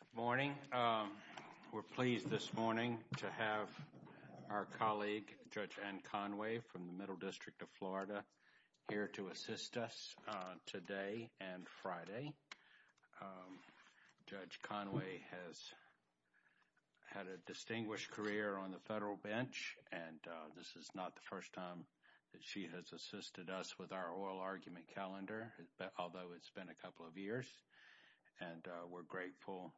Good morning. We're pleased this morning to have our colleague Judge Ann Conway from the Middle District of Florida here to assist us today and Friday. Judge Conway has had a distinguished career on the federal bench, and this is not the first time that she has assisted us with our oral argument calendar, although it's been a couple of years. And we're grateful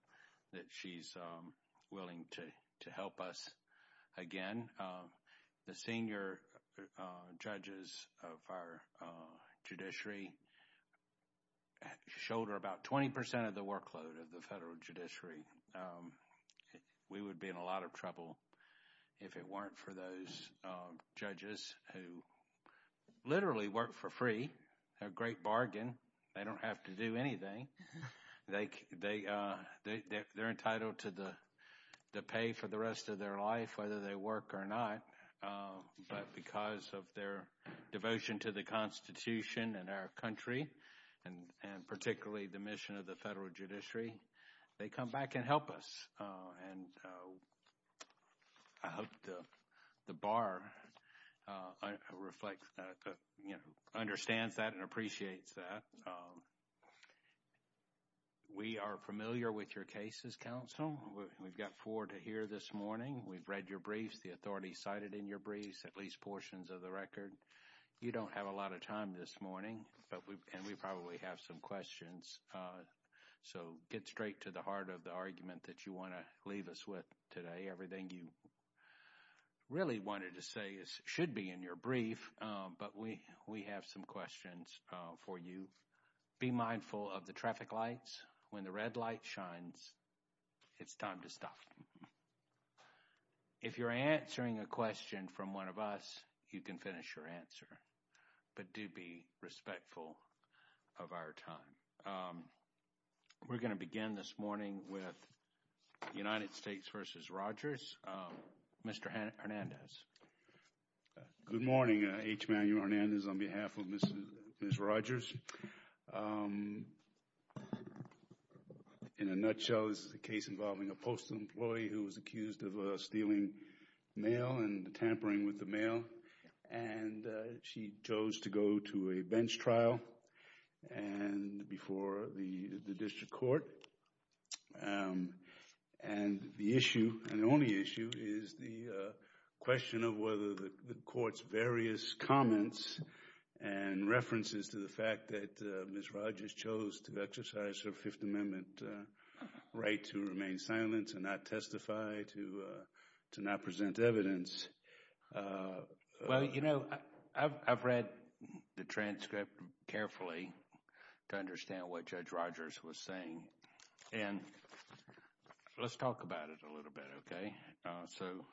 that she's willing to help us again. The senior judges of our judiciary shoulder about 20% of the workload of the federal judiciary. We would be in a lot of trouble if it weren't for those judges who literally work for free, a great bargain. They don't have to do anything. They're entitled to the pay for the rest of their life, whether they work or not. But because of their devotion to the Constitution and our country, and particularly the mission of the federal judiciary, they come back and help us. And I hope the bar understands that and appreciates that. We are familiar with your cases, counsel. We've got four to hear this morning. We've read your briefs, the authority cited in your briefs, at least portions of the record. You don't have a lot of time this morning, and we probably have some questions. So get straight to the heart of the argument that you want to leave us with today. Everything you really wanted to say should be in your brief, but we have some questions for you. Be mindful of the traffic lights. When the red light shines, it's time to stop. If you're answering a question from one of us, you can finish your answer, but do be respectful of our time. We're going to begin this morning with United States v. Rogers. Mr. Hernandez. Good morning, H. Manuel Hernandez on behalf of Ms. Rogers. In a nutshell, this is a case involving a postal employee who was accused of stealing mail and tampering with the mail, and she chose to go to a bench trial before the district court. And the issue, and the only issue, is the question of whether the court's various comments and references to the fact that Ms. Rogers chose to exercise her Fifth Amendment right to remain silent and not testify, to not present evidence. Well, you know, I've read the transcript carefully to understand what Judge Rogers was saying, and let's talk about it a little bit, okay? So,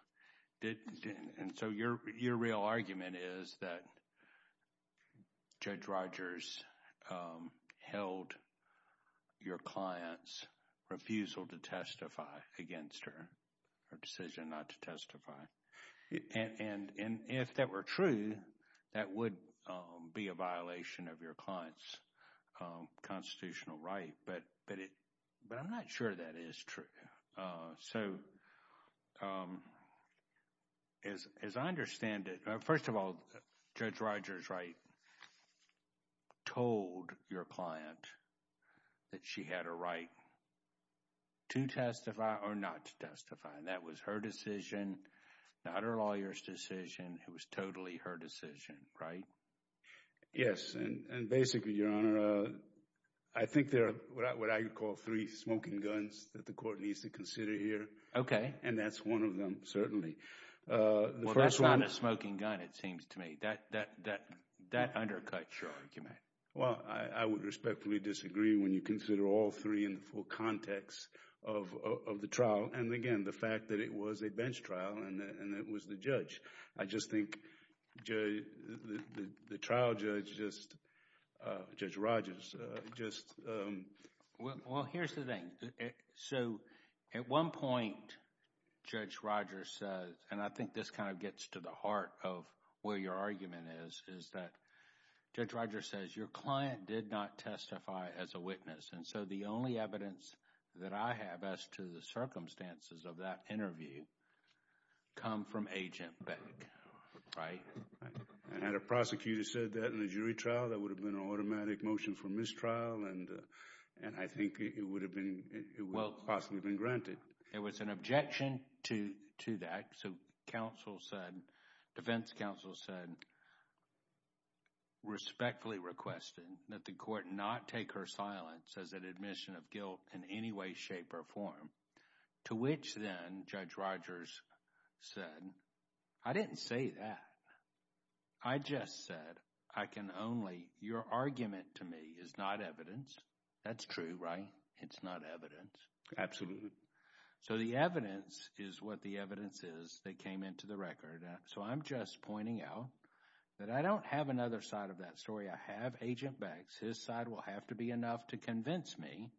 your real argument is that Judge Rogers held your client's refusal to testify against her, her decision not to testify. And if that were true, that would be a violation of your client's constitutional right, but I'm not sure that is true. So, as I understand it, first of all, Judge Rogers, right, told your client that she had a right to testify or not to testify, and that was her decision, not her lawyer's decision. It was totally her decision, right? Yes, and basically, Your Honor, I think there are what I would call three smoking guns that the court needs to consider here. Okay. And that's one of them, certainly. Well, that's not a smoking gun, it seems to me. That undercuts your argument. Well, I would respectfully disagree when you consider all three in the full context of the trial, and again, the fact that it was a bench trial and it was the judge. I just think the trial judge, Judge Rogers, just— Well, here's the thing. So, at one point, Judge Rogers says, and I think this kind of gets to the heart of where your argument is, is that Judge Rogers says, your client did not testify as a witness, and so the only evidence that I have as to the circumstances of that interview come from Agent Beck, right? And had a prosecutor said that in a jury trial, that would have been an automatic motion for mistrial, and I think it would have been—it would have possibly been granted. It was an objection to that, so counsel said, defense counsel said, respectfully requested that the court not take her silence as an admission of guilt in any way, shape, or form, to which then, Judge Rogers said, I didn't say that. I just said, I can only—your argument to me is not evidence. That's true, right? It's not evidence. Absolutely. So, the evidence is what the evidence is that came into the record, and so I'm just pointing out that I don't have another side of that story. I have Agent Beck. His side will have to be enough to convince me.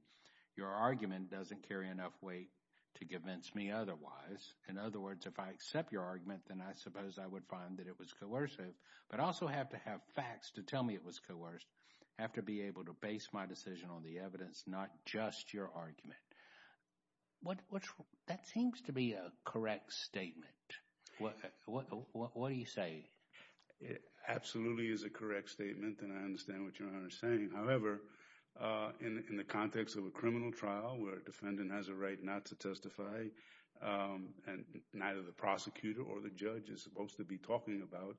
Your argument doesn't carry enough weight to convince me otherwise. In other words, if I accept your argument, then I suppose I would find that it was coercive, but also have to have facts to tell me it was coerced. I have to be able to base my decision on the evidence, not just your argument. That seems to be a correct statement. What do you say? It absolutely is a correct statement, and I understand what you're saying. However, in the context of a criminal trial where a defendant has a right not to testify, and neither the prosecutor or the judge is supposed to be talking about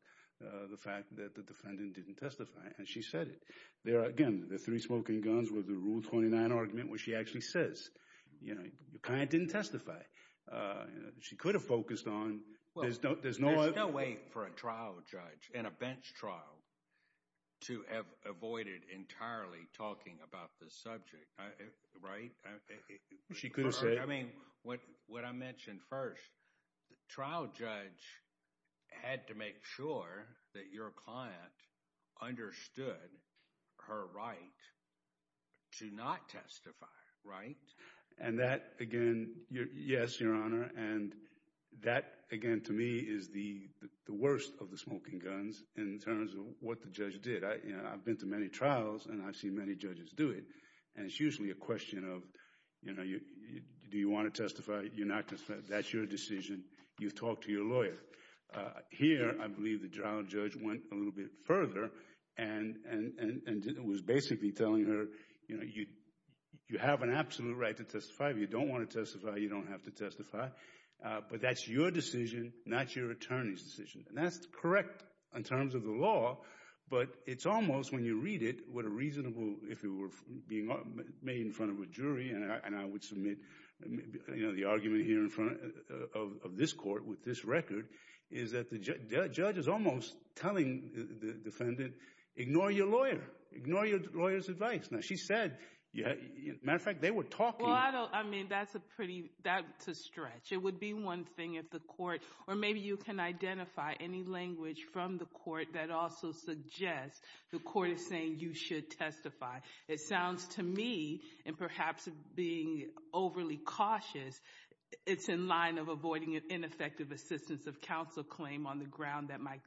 the fact that the defendant didn't testify, and she said it. There are, again, the three smoking guns with the Rule 29 argument where she actually says, you know, your client didn't testify. She could have focused on... Well, there's no way for a trial judge in a bench trial to have avoided entirely talking about this subject, right? She could have said... I mean, what I mentioned first, the trial judge had to make sure that your client understood her right to not testify, right? And that, again, yes, Your Honor, and that, again, to me is the worst of the smoking guns in terms of what the judge did. I've been to many trials, and I've seen many judges do it, and it's usually a question of, you know, do you want to testify? You're not going to testify. That's your decision. You've talked to your lawyer. Here, I believe the trial judge went a little bit further and was basically telling her, you know, you have an absolute right to testify. If you don't want to testify, you don't have to testify, but that's your decision, not your attorney's decision, and that's correct in terms of the law, but it's almost, when you read it, what a reasonable... If it were being made in front of a jury, and I would submit, you know, the argument here in front of this court with this record is that the judge is almost telling the defendant, ignore your lawyer. Ignore your lawyer's advice. Now, she said, as a matter of fact, they were talking... Well, I don't... I mean, that's a pretty... That's a stretch. It would be one thing if the court... Or maybe you can identify any language from the court that also suggests the court is saying you should testify. It sounds to me, and perhaps being overly cautious, it's in line of avoiding an ineffective assistance of counsel claim on the ground that my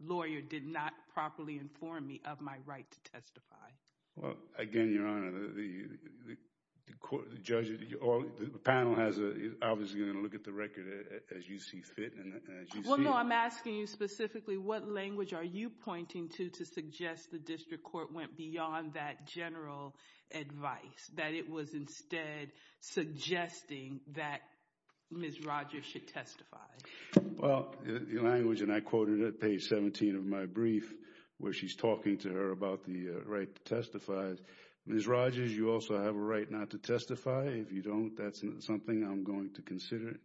lawyer did not properly inform me of my right to testify. Well, again, Your Honor, the court, the judge, or the panel is obviously going to look at the record as you see fit, and as you see... Well, no, I'm asking you specifically, what language are you pointing to to suggest the district court went beyond that general advice, that it was instead suggesting that Ms. Rogers should testify? Well, the language, and I quoted it at page 17 of my brief, where she's talking to her about the right to testify. Ms. Rogers, you also have a right not to testify. If you don't, that's something I'm going to consider.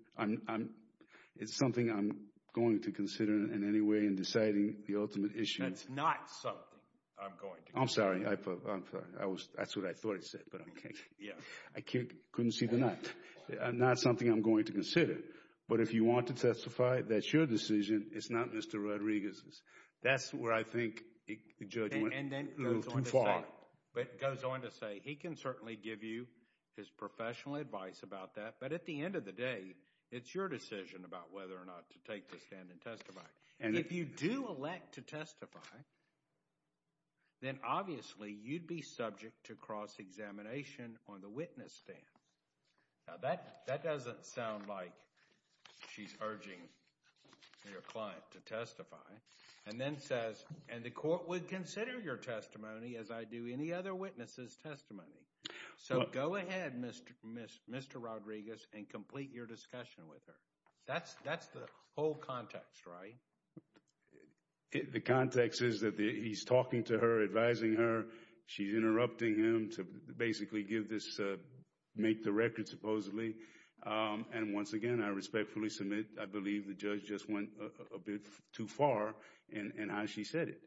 It's something I'm going to consider in any way in deciding the ultimate issue. That's not something I'm going to consider. I'm sorry. I'm sorry. That's what I thought it said, but okay. Yeah. I couldn't see the... Not something I'm going to consider, but if you want to testify, that's your decision. It's not Mr. Rodriguez's. That's where I think the judge went a little too far. And then it goes on to say, he can certainly give you his professional advice about that, but at the end of the day, it's your decision about whether or not to take the stand and testify. And if you do elect to testify, then obviously you'd be subject to cross-examination on the... She's urging your client to testify. And then it says, and the court would consider your testimony as I do any other witness's testimony. So go ahead, Mr. Rodriguez, and complete your discussion with her. That's the whole context, right? The context is that he's talking to her, advising her. She's interrupting him to basically give this, make the record supposedly. And once again, I respectfully submit, I believe the judge just went a bit too far in how she said it.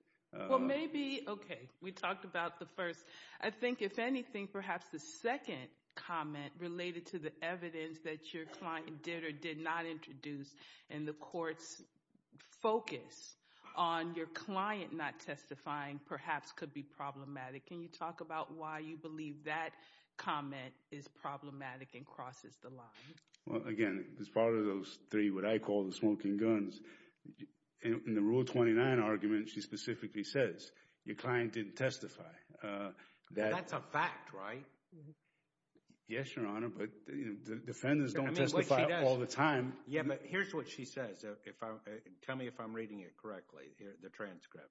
Well, maybe, okay. We talked about the first. I think if anything, perhaps the second comment related to the evidence that your client did or did not introduce in the court's focus on your client not testifying perhaps could be problematic. Can you talk about why you believe that comment is problematic and crosses the line? Well, again, as part of those three, what I call the smoking guns, in the Rule 29 argument, she specifically says your client didn't testify. That's a fact, right? Yes, Your Honor, but defendants don't testify all the time. Yeah, but here's what she says. Tell me if I'm reading it correctly, the transcript.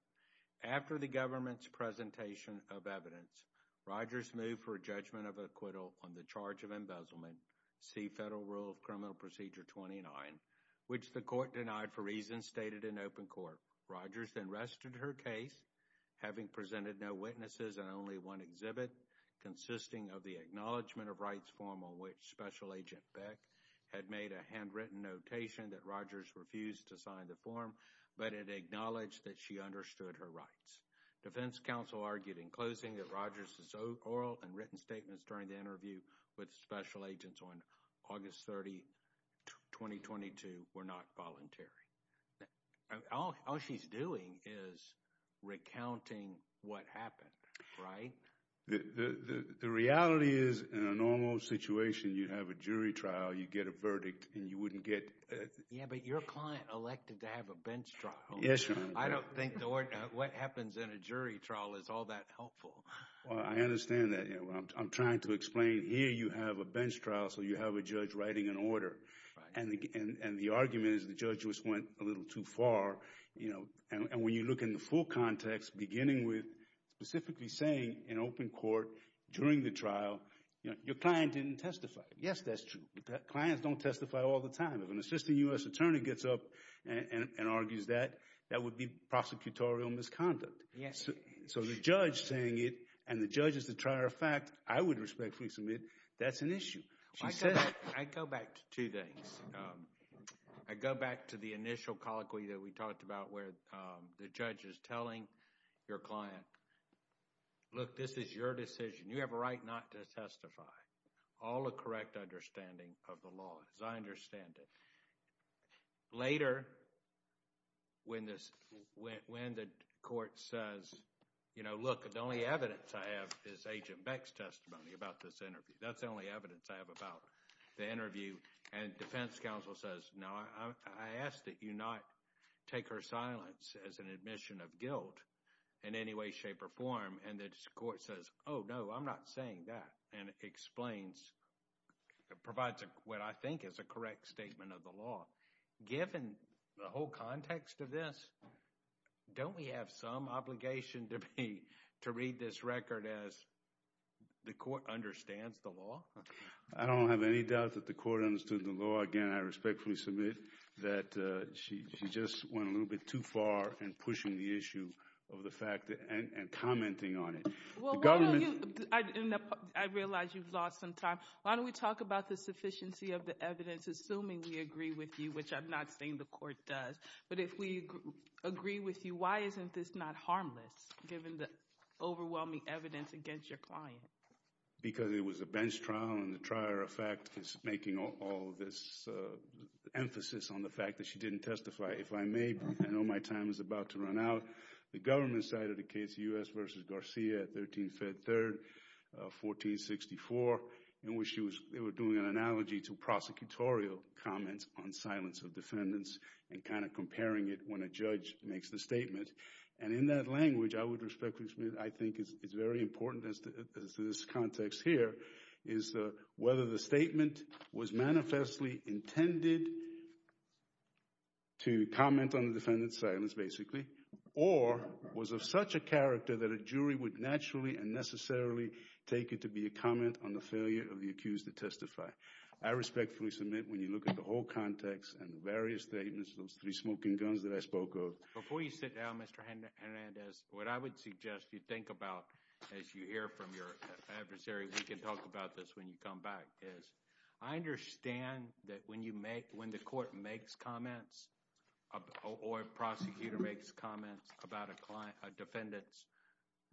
After the government's presentation of evidence, Rogers moved for a judgment of acquittal on the charge of embezzlement, see Federal Rule of Criminal Procedure 29, which the court denied for reasons stated in open court. Rogers then rested her case, having presented no witnesses and only one exhibit consisting of the acknowledgement of rights form on which Special Agent Beck had made a handwritten notation that Rogers refused to sign the form, but it acknowledged that she understood her rights. Defense counsel argued in closing that Rogers' oral and written statements during the interview with Special Agents on August 30, 2022 were not voluntary. All she's doing is recounting what happened, right? The reality is in a normal situation, you have a jury trial, you get a verdict, and you wouldn't get... Yeah, but your client elected to have a bench trial. Yes, Your Honor. I don't think what happens in a jury trial is all that helpful. Well, I understand that. I'm trying to explain here you have a bench trial, so you have a judge writing an order, and the argument is the judge just went a little too far. And when you look in the full context, beginning with specifically saying in open court during the trial, your client didn't testify. Yes, that's true, but clients don't testify all the time. If an assistant U.S. attorney gets up and argues that, that would be prosecutorial misconduct. Yes. So the judge saying it, and the judge is the trier of fact, I would respectfully submit that's an issue. I go back to two things. I go back to the initial colloquy that we talked about where the judge is telling your client, look, this is your decision. You have a right not to testify. All a correct understanding of law, as I understand it. Later, when the court says, you know, look, the only evidence I have is Agent Beck's testimony about this interview. That's the only evidence I have about the interview. And defense counsel says, no, I ask that you not take her silence as an admission of guilt in any way, shape, or form. And the court says, oh, no, I'm not saying that, and explains, provides what I think is a correct statement of the law. Given the whole context of this, don't we have some obligation to be, to read this record as the court understands the law? I don't have any doubt that the court understood the law. Again, I respectfully submit that she just went a little bit too far in pushing the issue of the fact, and commenting on it. Well, I realize you've lost some time. Why don't we talk about the sufficiency of the evidence, assuming we agree with you, which I'm not saying the court does. But if we agree with you, why isn't this not harmless, given the overwhelming evidence against your client? Because it was a bench trial, and the trial, in fact, is making all this emphasis on the fact that she didn't testify. If I may, I know my time is about to run out. The government side of the case, U.S. v. Garcia at 13 Feb. 3, 1464, in which they were doing an analogy to prosecutorial comments on silence of defendants, and kind of comparing it when a judge makes the statement. And in that language, I would respectfully submit, I think it's very important as to this context here, is whether the statement was manifestly intended to comment on the defendant's silence, or was of such a character that a jury would naturally and necessarily take it to be a comment on the failure of the accused to testify. I respectfully submit, when you look at the whole context and the various statements, those three smoking guns that I spoke of. Before you sit down, Mr. Hernandez, what I would suggest you think about, as you hear from your adversary, we can talk about this when you come back, I understand that when the court makes comments, or a prosecutor makes comments about a defendant's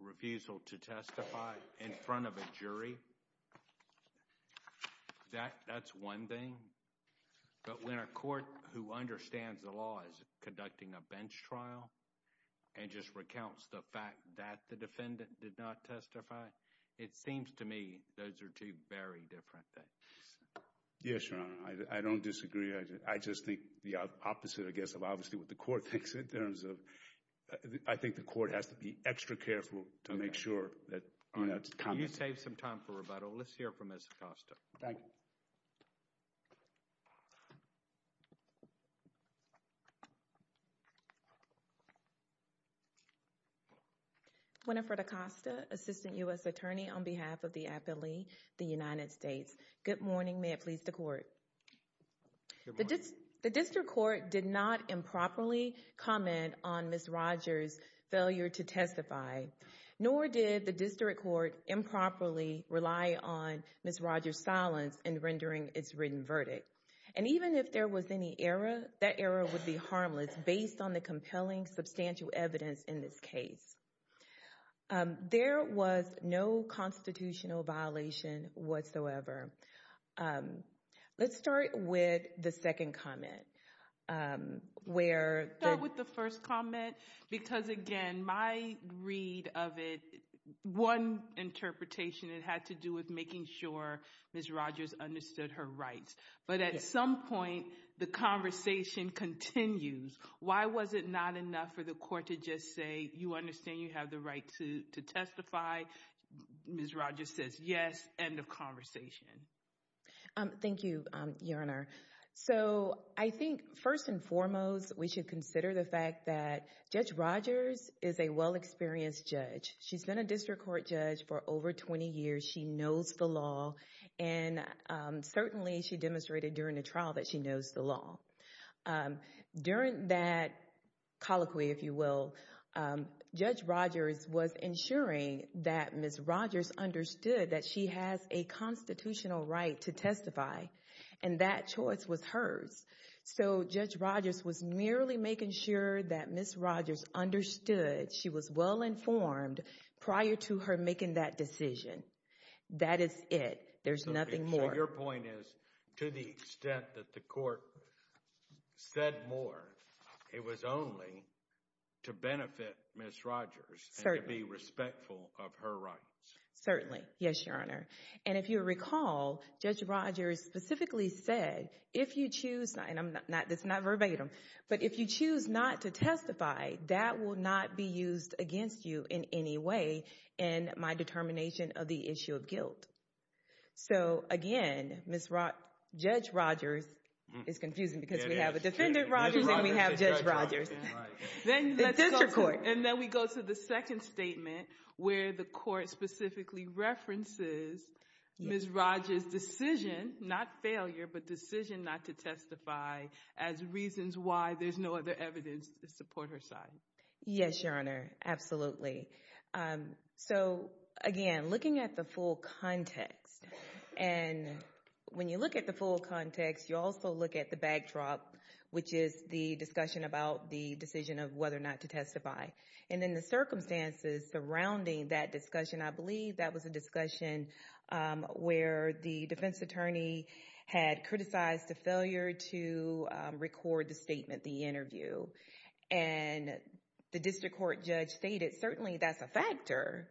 refusal to testify in front of a jury, that's one thing. But when a court who understands the law is conducting a bench trial, and just recounts the fact that the defendant did not testify, it seems to me those are two very different things. Yes, Your Honor, I don't disagree. I just think the opposite, I guess, of obviously what the court thinks in terms of, I think the court has to be extra careful to make sure that, you know, it's concrete. You saved some time for rebuttal. Let's hear from Ms. Acosta. Thank you. Ms. Acosta, Assistant U.S. Attorney on behalf of the Appellee, the United States. Good morning. May it please the court. The district court did not improperly comment on Ms. Rogers' failure to testify, nor did the district court improperly rely on Ms. Rogers' silence in rendering its written verdict. Even if there was any error, that error would be harmless based on the compelling, substantial evidence in this case. There was no constitutional violation whatsoever. Let's start with the second comment. Let's start with the first comment, because again, my read of it, one interpretation, it had to do with making sure Ms. Rogers understood her rights. But at some point, the conversation continues. Why was it not enough for the court to just say, you understand you have the right to testify? Ms. Rogers says, yes, end of conversation. Thank you, Your Honor. So, I think first and foremost, we should consider the fact that Judge Rogers is a well-experienced judge. She's been a district court judge for over 20 years. She knows the law, and certainly she demonstrated during the trial that she knows the law. During that colloquy, if you will, Judge Rogers was ensuring that Ms. Rogers understood that she has a constitutional right to testify, and that choice was hers. So, Judge Rogers was merely making sure that Ms. Rogers understood she was well-informed prior to her making that decision. That is it. There's nothing more. So, your point is, to the extent that the court said more, it was only to benefit Ms. Rogers and to be respectful of her rights. Certainly. Yes, Your Honor. And if you recall, Judge Rogers specifically said, if you choose, and it's not verbatim, but if you choose not to testify, that will not be used against you in any way in my determination of the issue of guilt. So, again, Judge Rogers is confusing because we have a Defendant Rogers and we have Judge Rogers. And then we go to the second statement where the court specifically references Ms. Rogers' decision, not failure, but decision not to testify as reasons why there's no other evidence to support her side. Yes, Your Honor. Absolutely. So, again, looking at the full context, and when you look at the full context, you also look at the backdrop, which is the discussion about the decision of whether or not to testify. And in the circumstances surrounding that discussion, I believe that was a discussion where the defense attorney had criticized the failure to record the statement, the interview. And the district court judge stated, certainly that's a factor.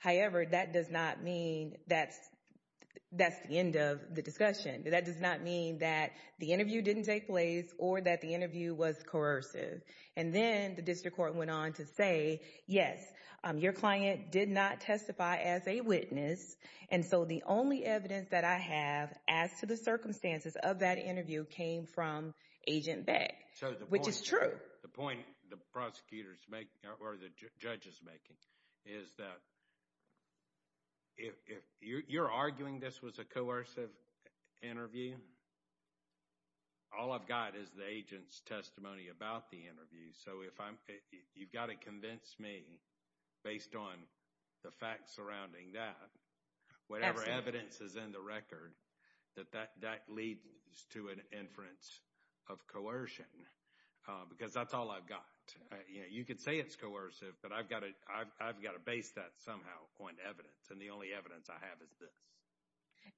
However, that does not mean that's the end of the discussion. That does not mean that the interview didn't take place or that the interview was coercive. And then the district court went on to say, yes, your client did not testify as a witness. And so the only evidence that I have as to the circumstances of that interview came from Agent Beck, which is true. The point the prosecutor's making or the judge is making is that if you're arguing this was a coercive interview, all I've got is the agent's testimony about the interview. So if I'm, you've got to convince me, based on the facts surrounding that, whatever evidence is in the record, that that leads to an inference of coercion. Because that's all I've got. You could say it's coercive, but I've got to base that somehow on evidence. And the only evidence I have is this.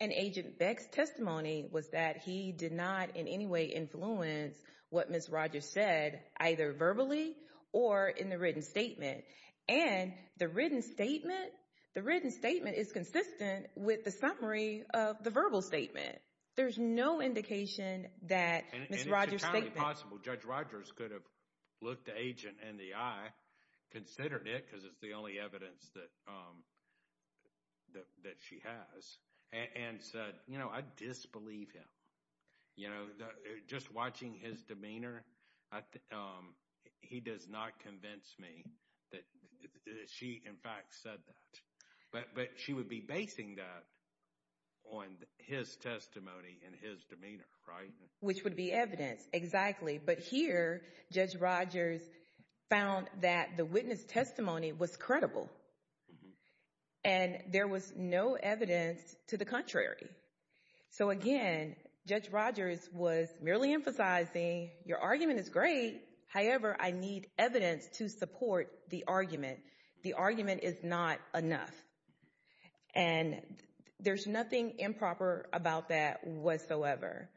And Agent Beck's testimony was that he did not in any way influence what Ms. Rogers said, either verbally or in the written statement. And the written statement, the written statement is consistent with the summary of the verbal statement. There's no indication that Ms. Rogers' statement. And it's entirely possible Judge Rogers could have looked the agent in the eye, considered it because it's the only evidence that she has, and said, you know, I disbelieve him. You know, just watching his demeanor, he does not convince me that she, in fact, said that. But she would be basing that on his testimony and his demeanor, right? Which would be evidence, exactly. But here, Judge Rogers found that the witness testimony was credible. And there was no evidence to the contrary. So again, Judge Rogers was merely emphasizing, your argument is great. However, I need evidence to support the argument. The argument is not enough. And there's nothing improper about that whatsoever.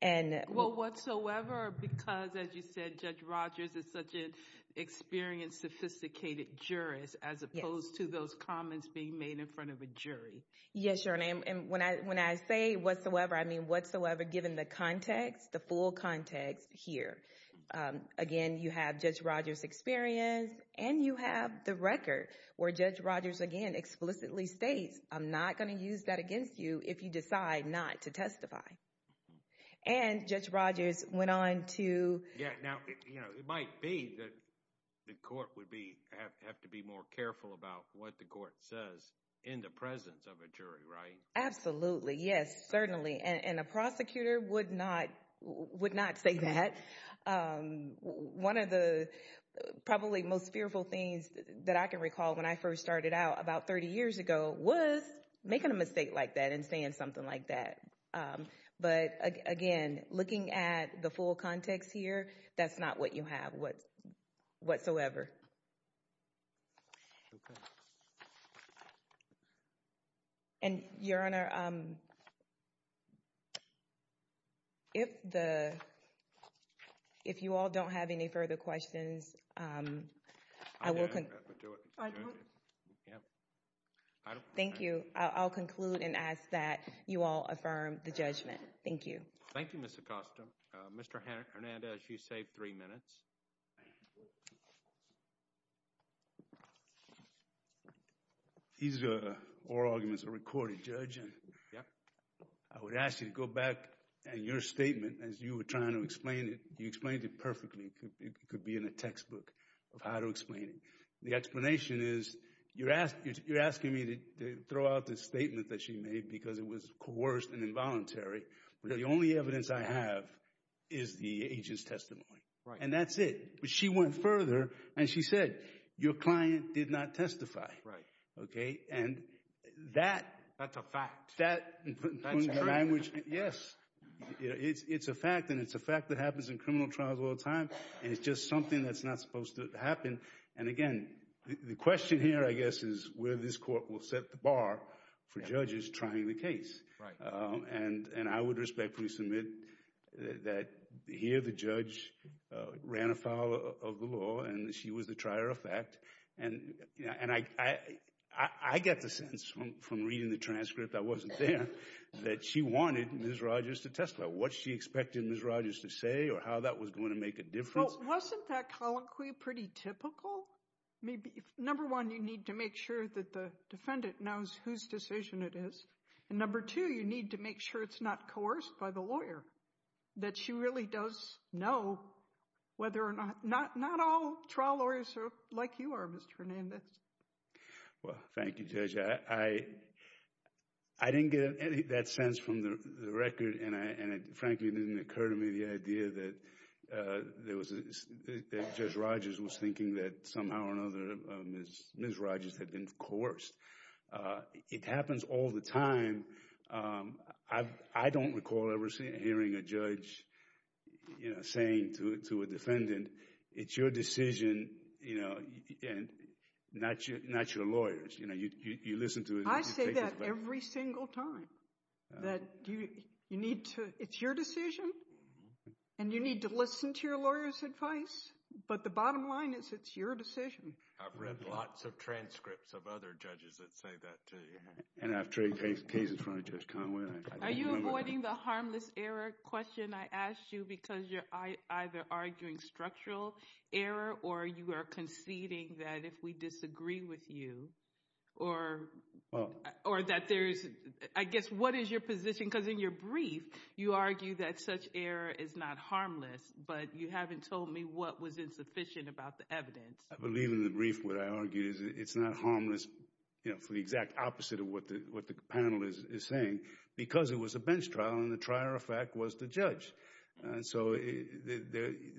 And... Well, whatsoever, because as you said, Judge Rogers is such an experienced, sophisticated jurist, as opposed to those comments being made in front of a jury. Yes, Your Honor. And when I say whatsoever, I mean whatsoever, given the context, the full context here. Again, you have Judge Rogers' experience, and you have the record, where Judge Rogers, again, explicitly states, I'm not going to use that against you if you decide not to testify. And Judge Rogers went on to... Yeah, now, you know, it might be that the court would have to be more careful about what the court says in the presence of a jury, right? Absolutely. Yes, certainly. And a prosecutor would not say that. One of the probably most fearful things that I can recall when I first started out, about 30 years ago, was making a mistake like that and saying something like that. But again, looking at the full context here, that's not what you have whatsoever. And, Your Honor, if the... If you all don't have any further questions, I will... I don't... Thank you. I'll conclude and ask that you all affirm the judgment. Thank you. Thank you, Ms. Acosta. Mr. Hernandez, you saved three minutes. These oral arguments are recorded, Judge, and I would ask you to go back and your statement, as you were trying to explain it, you explained it perfectly. It could be in a textbook of how to explain it. The explanation is, you're asking me to throw out this statement that she made because it was coerced and involuntary, but the only evidence I have is the agent's testimony. And that's it. But she went further, and she said, your client did not testify, okay? And that... That's a fact. That's true. Yes. It's a fact, and it's a fact that happens in criminal trials all the time, and it's just something that's not supposed to happen. And again, the question here, I guess, is where this court will set the bar for judges trying the case. Right. And I would respectfully submit that here the judge ran afoul of the law, and she was the trier of fact. And, and I... I get the sense from reading the transcript, I wasn't there, that she wanted Ms. Rodgers to testify. What she expected Ms. Rodgers to say, or how that was going to make a difference... Well, wasn't that colloquy pretty typical? Maybe... Number one, you need to make sure that the defendant knows whose decision it is. And number two, you need to make sure it's not coerced by the lawyer, that she really does know whether or not... Not all trial lawyers are like you are, Mr. Hernandez. Well, thank you, Judge. I didn't get that sense from the record, and it frankly didn't occur to me the idea that Judge Rodgers was thinking that somehow or another Ms. Rodgers had been coerced. It happens all the time. I don't recall ever hearing a judge you know, saying to a defendant, it's your decision, you know, and not your lawyers. You know, you listen to... I say that every single time, that you need to... It's your decision, and you need to listen to your lawyer's advice, but the bottom line is it's your decision. I've read lots of transcripts of other judges that say that to you. And I've traded cases in front of Are you avoiding the harmless error question I asked you, because you're either arguing structural error, or you are conceding that if we disagree with you, or that there's... I guess, what is your position? Because in your brief, you argue that such error is not harmless, but you haven't told me what was insufficient about the evidence. I believe in the brief, what I argue is it's not harmless, you know, for the exact opposite of what the panel is saying, because it was a bench trial, and the trier of fact was the judge. And so,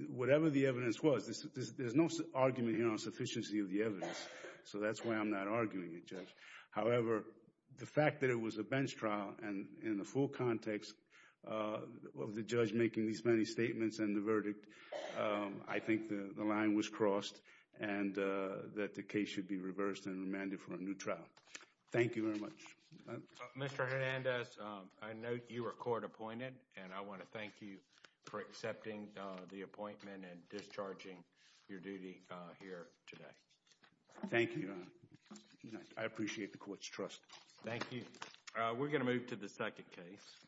whatever the evidence was, there's no argument here on sufficiency of the evidence. So, that's why I'm not arguing it, Judge. However, the fact that it was a bench trial, and in the full context of the judge making these many statements and the I think the line was crossed, and that the case should be reversed and remanded for a new trial. Thank you very much. Mr. Hernandez, I know you were court appointed, and I want to thank you for accepting the appointment and discharging your duty here today. Thank you. I appreciate the court's trust. Thank you. We're going to move to the second case.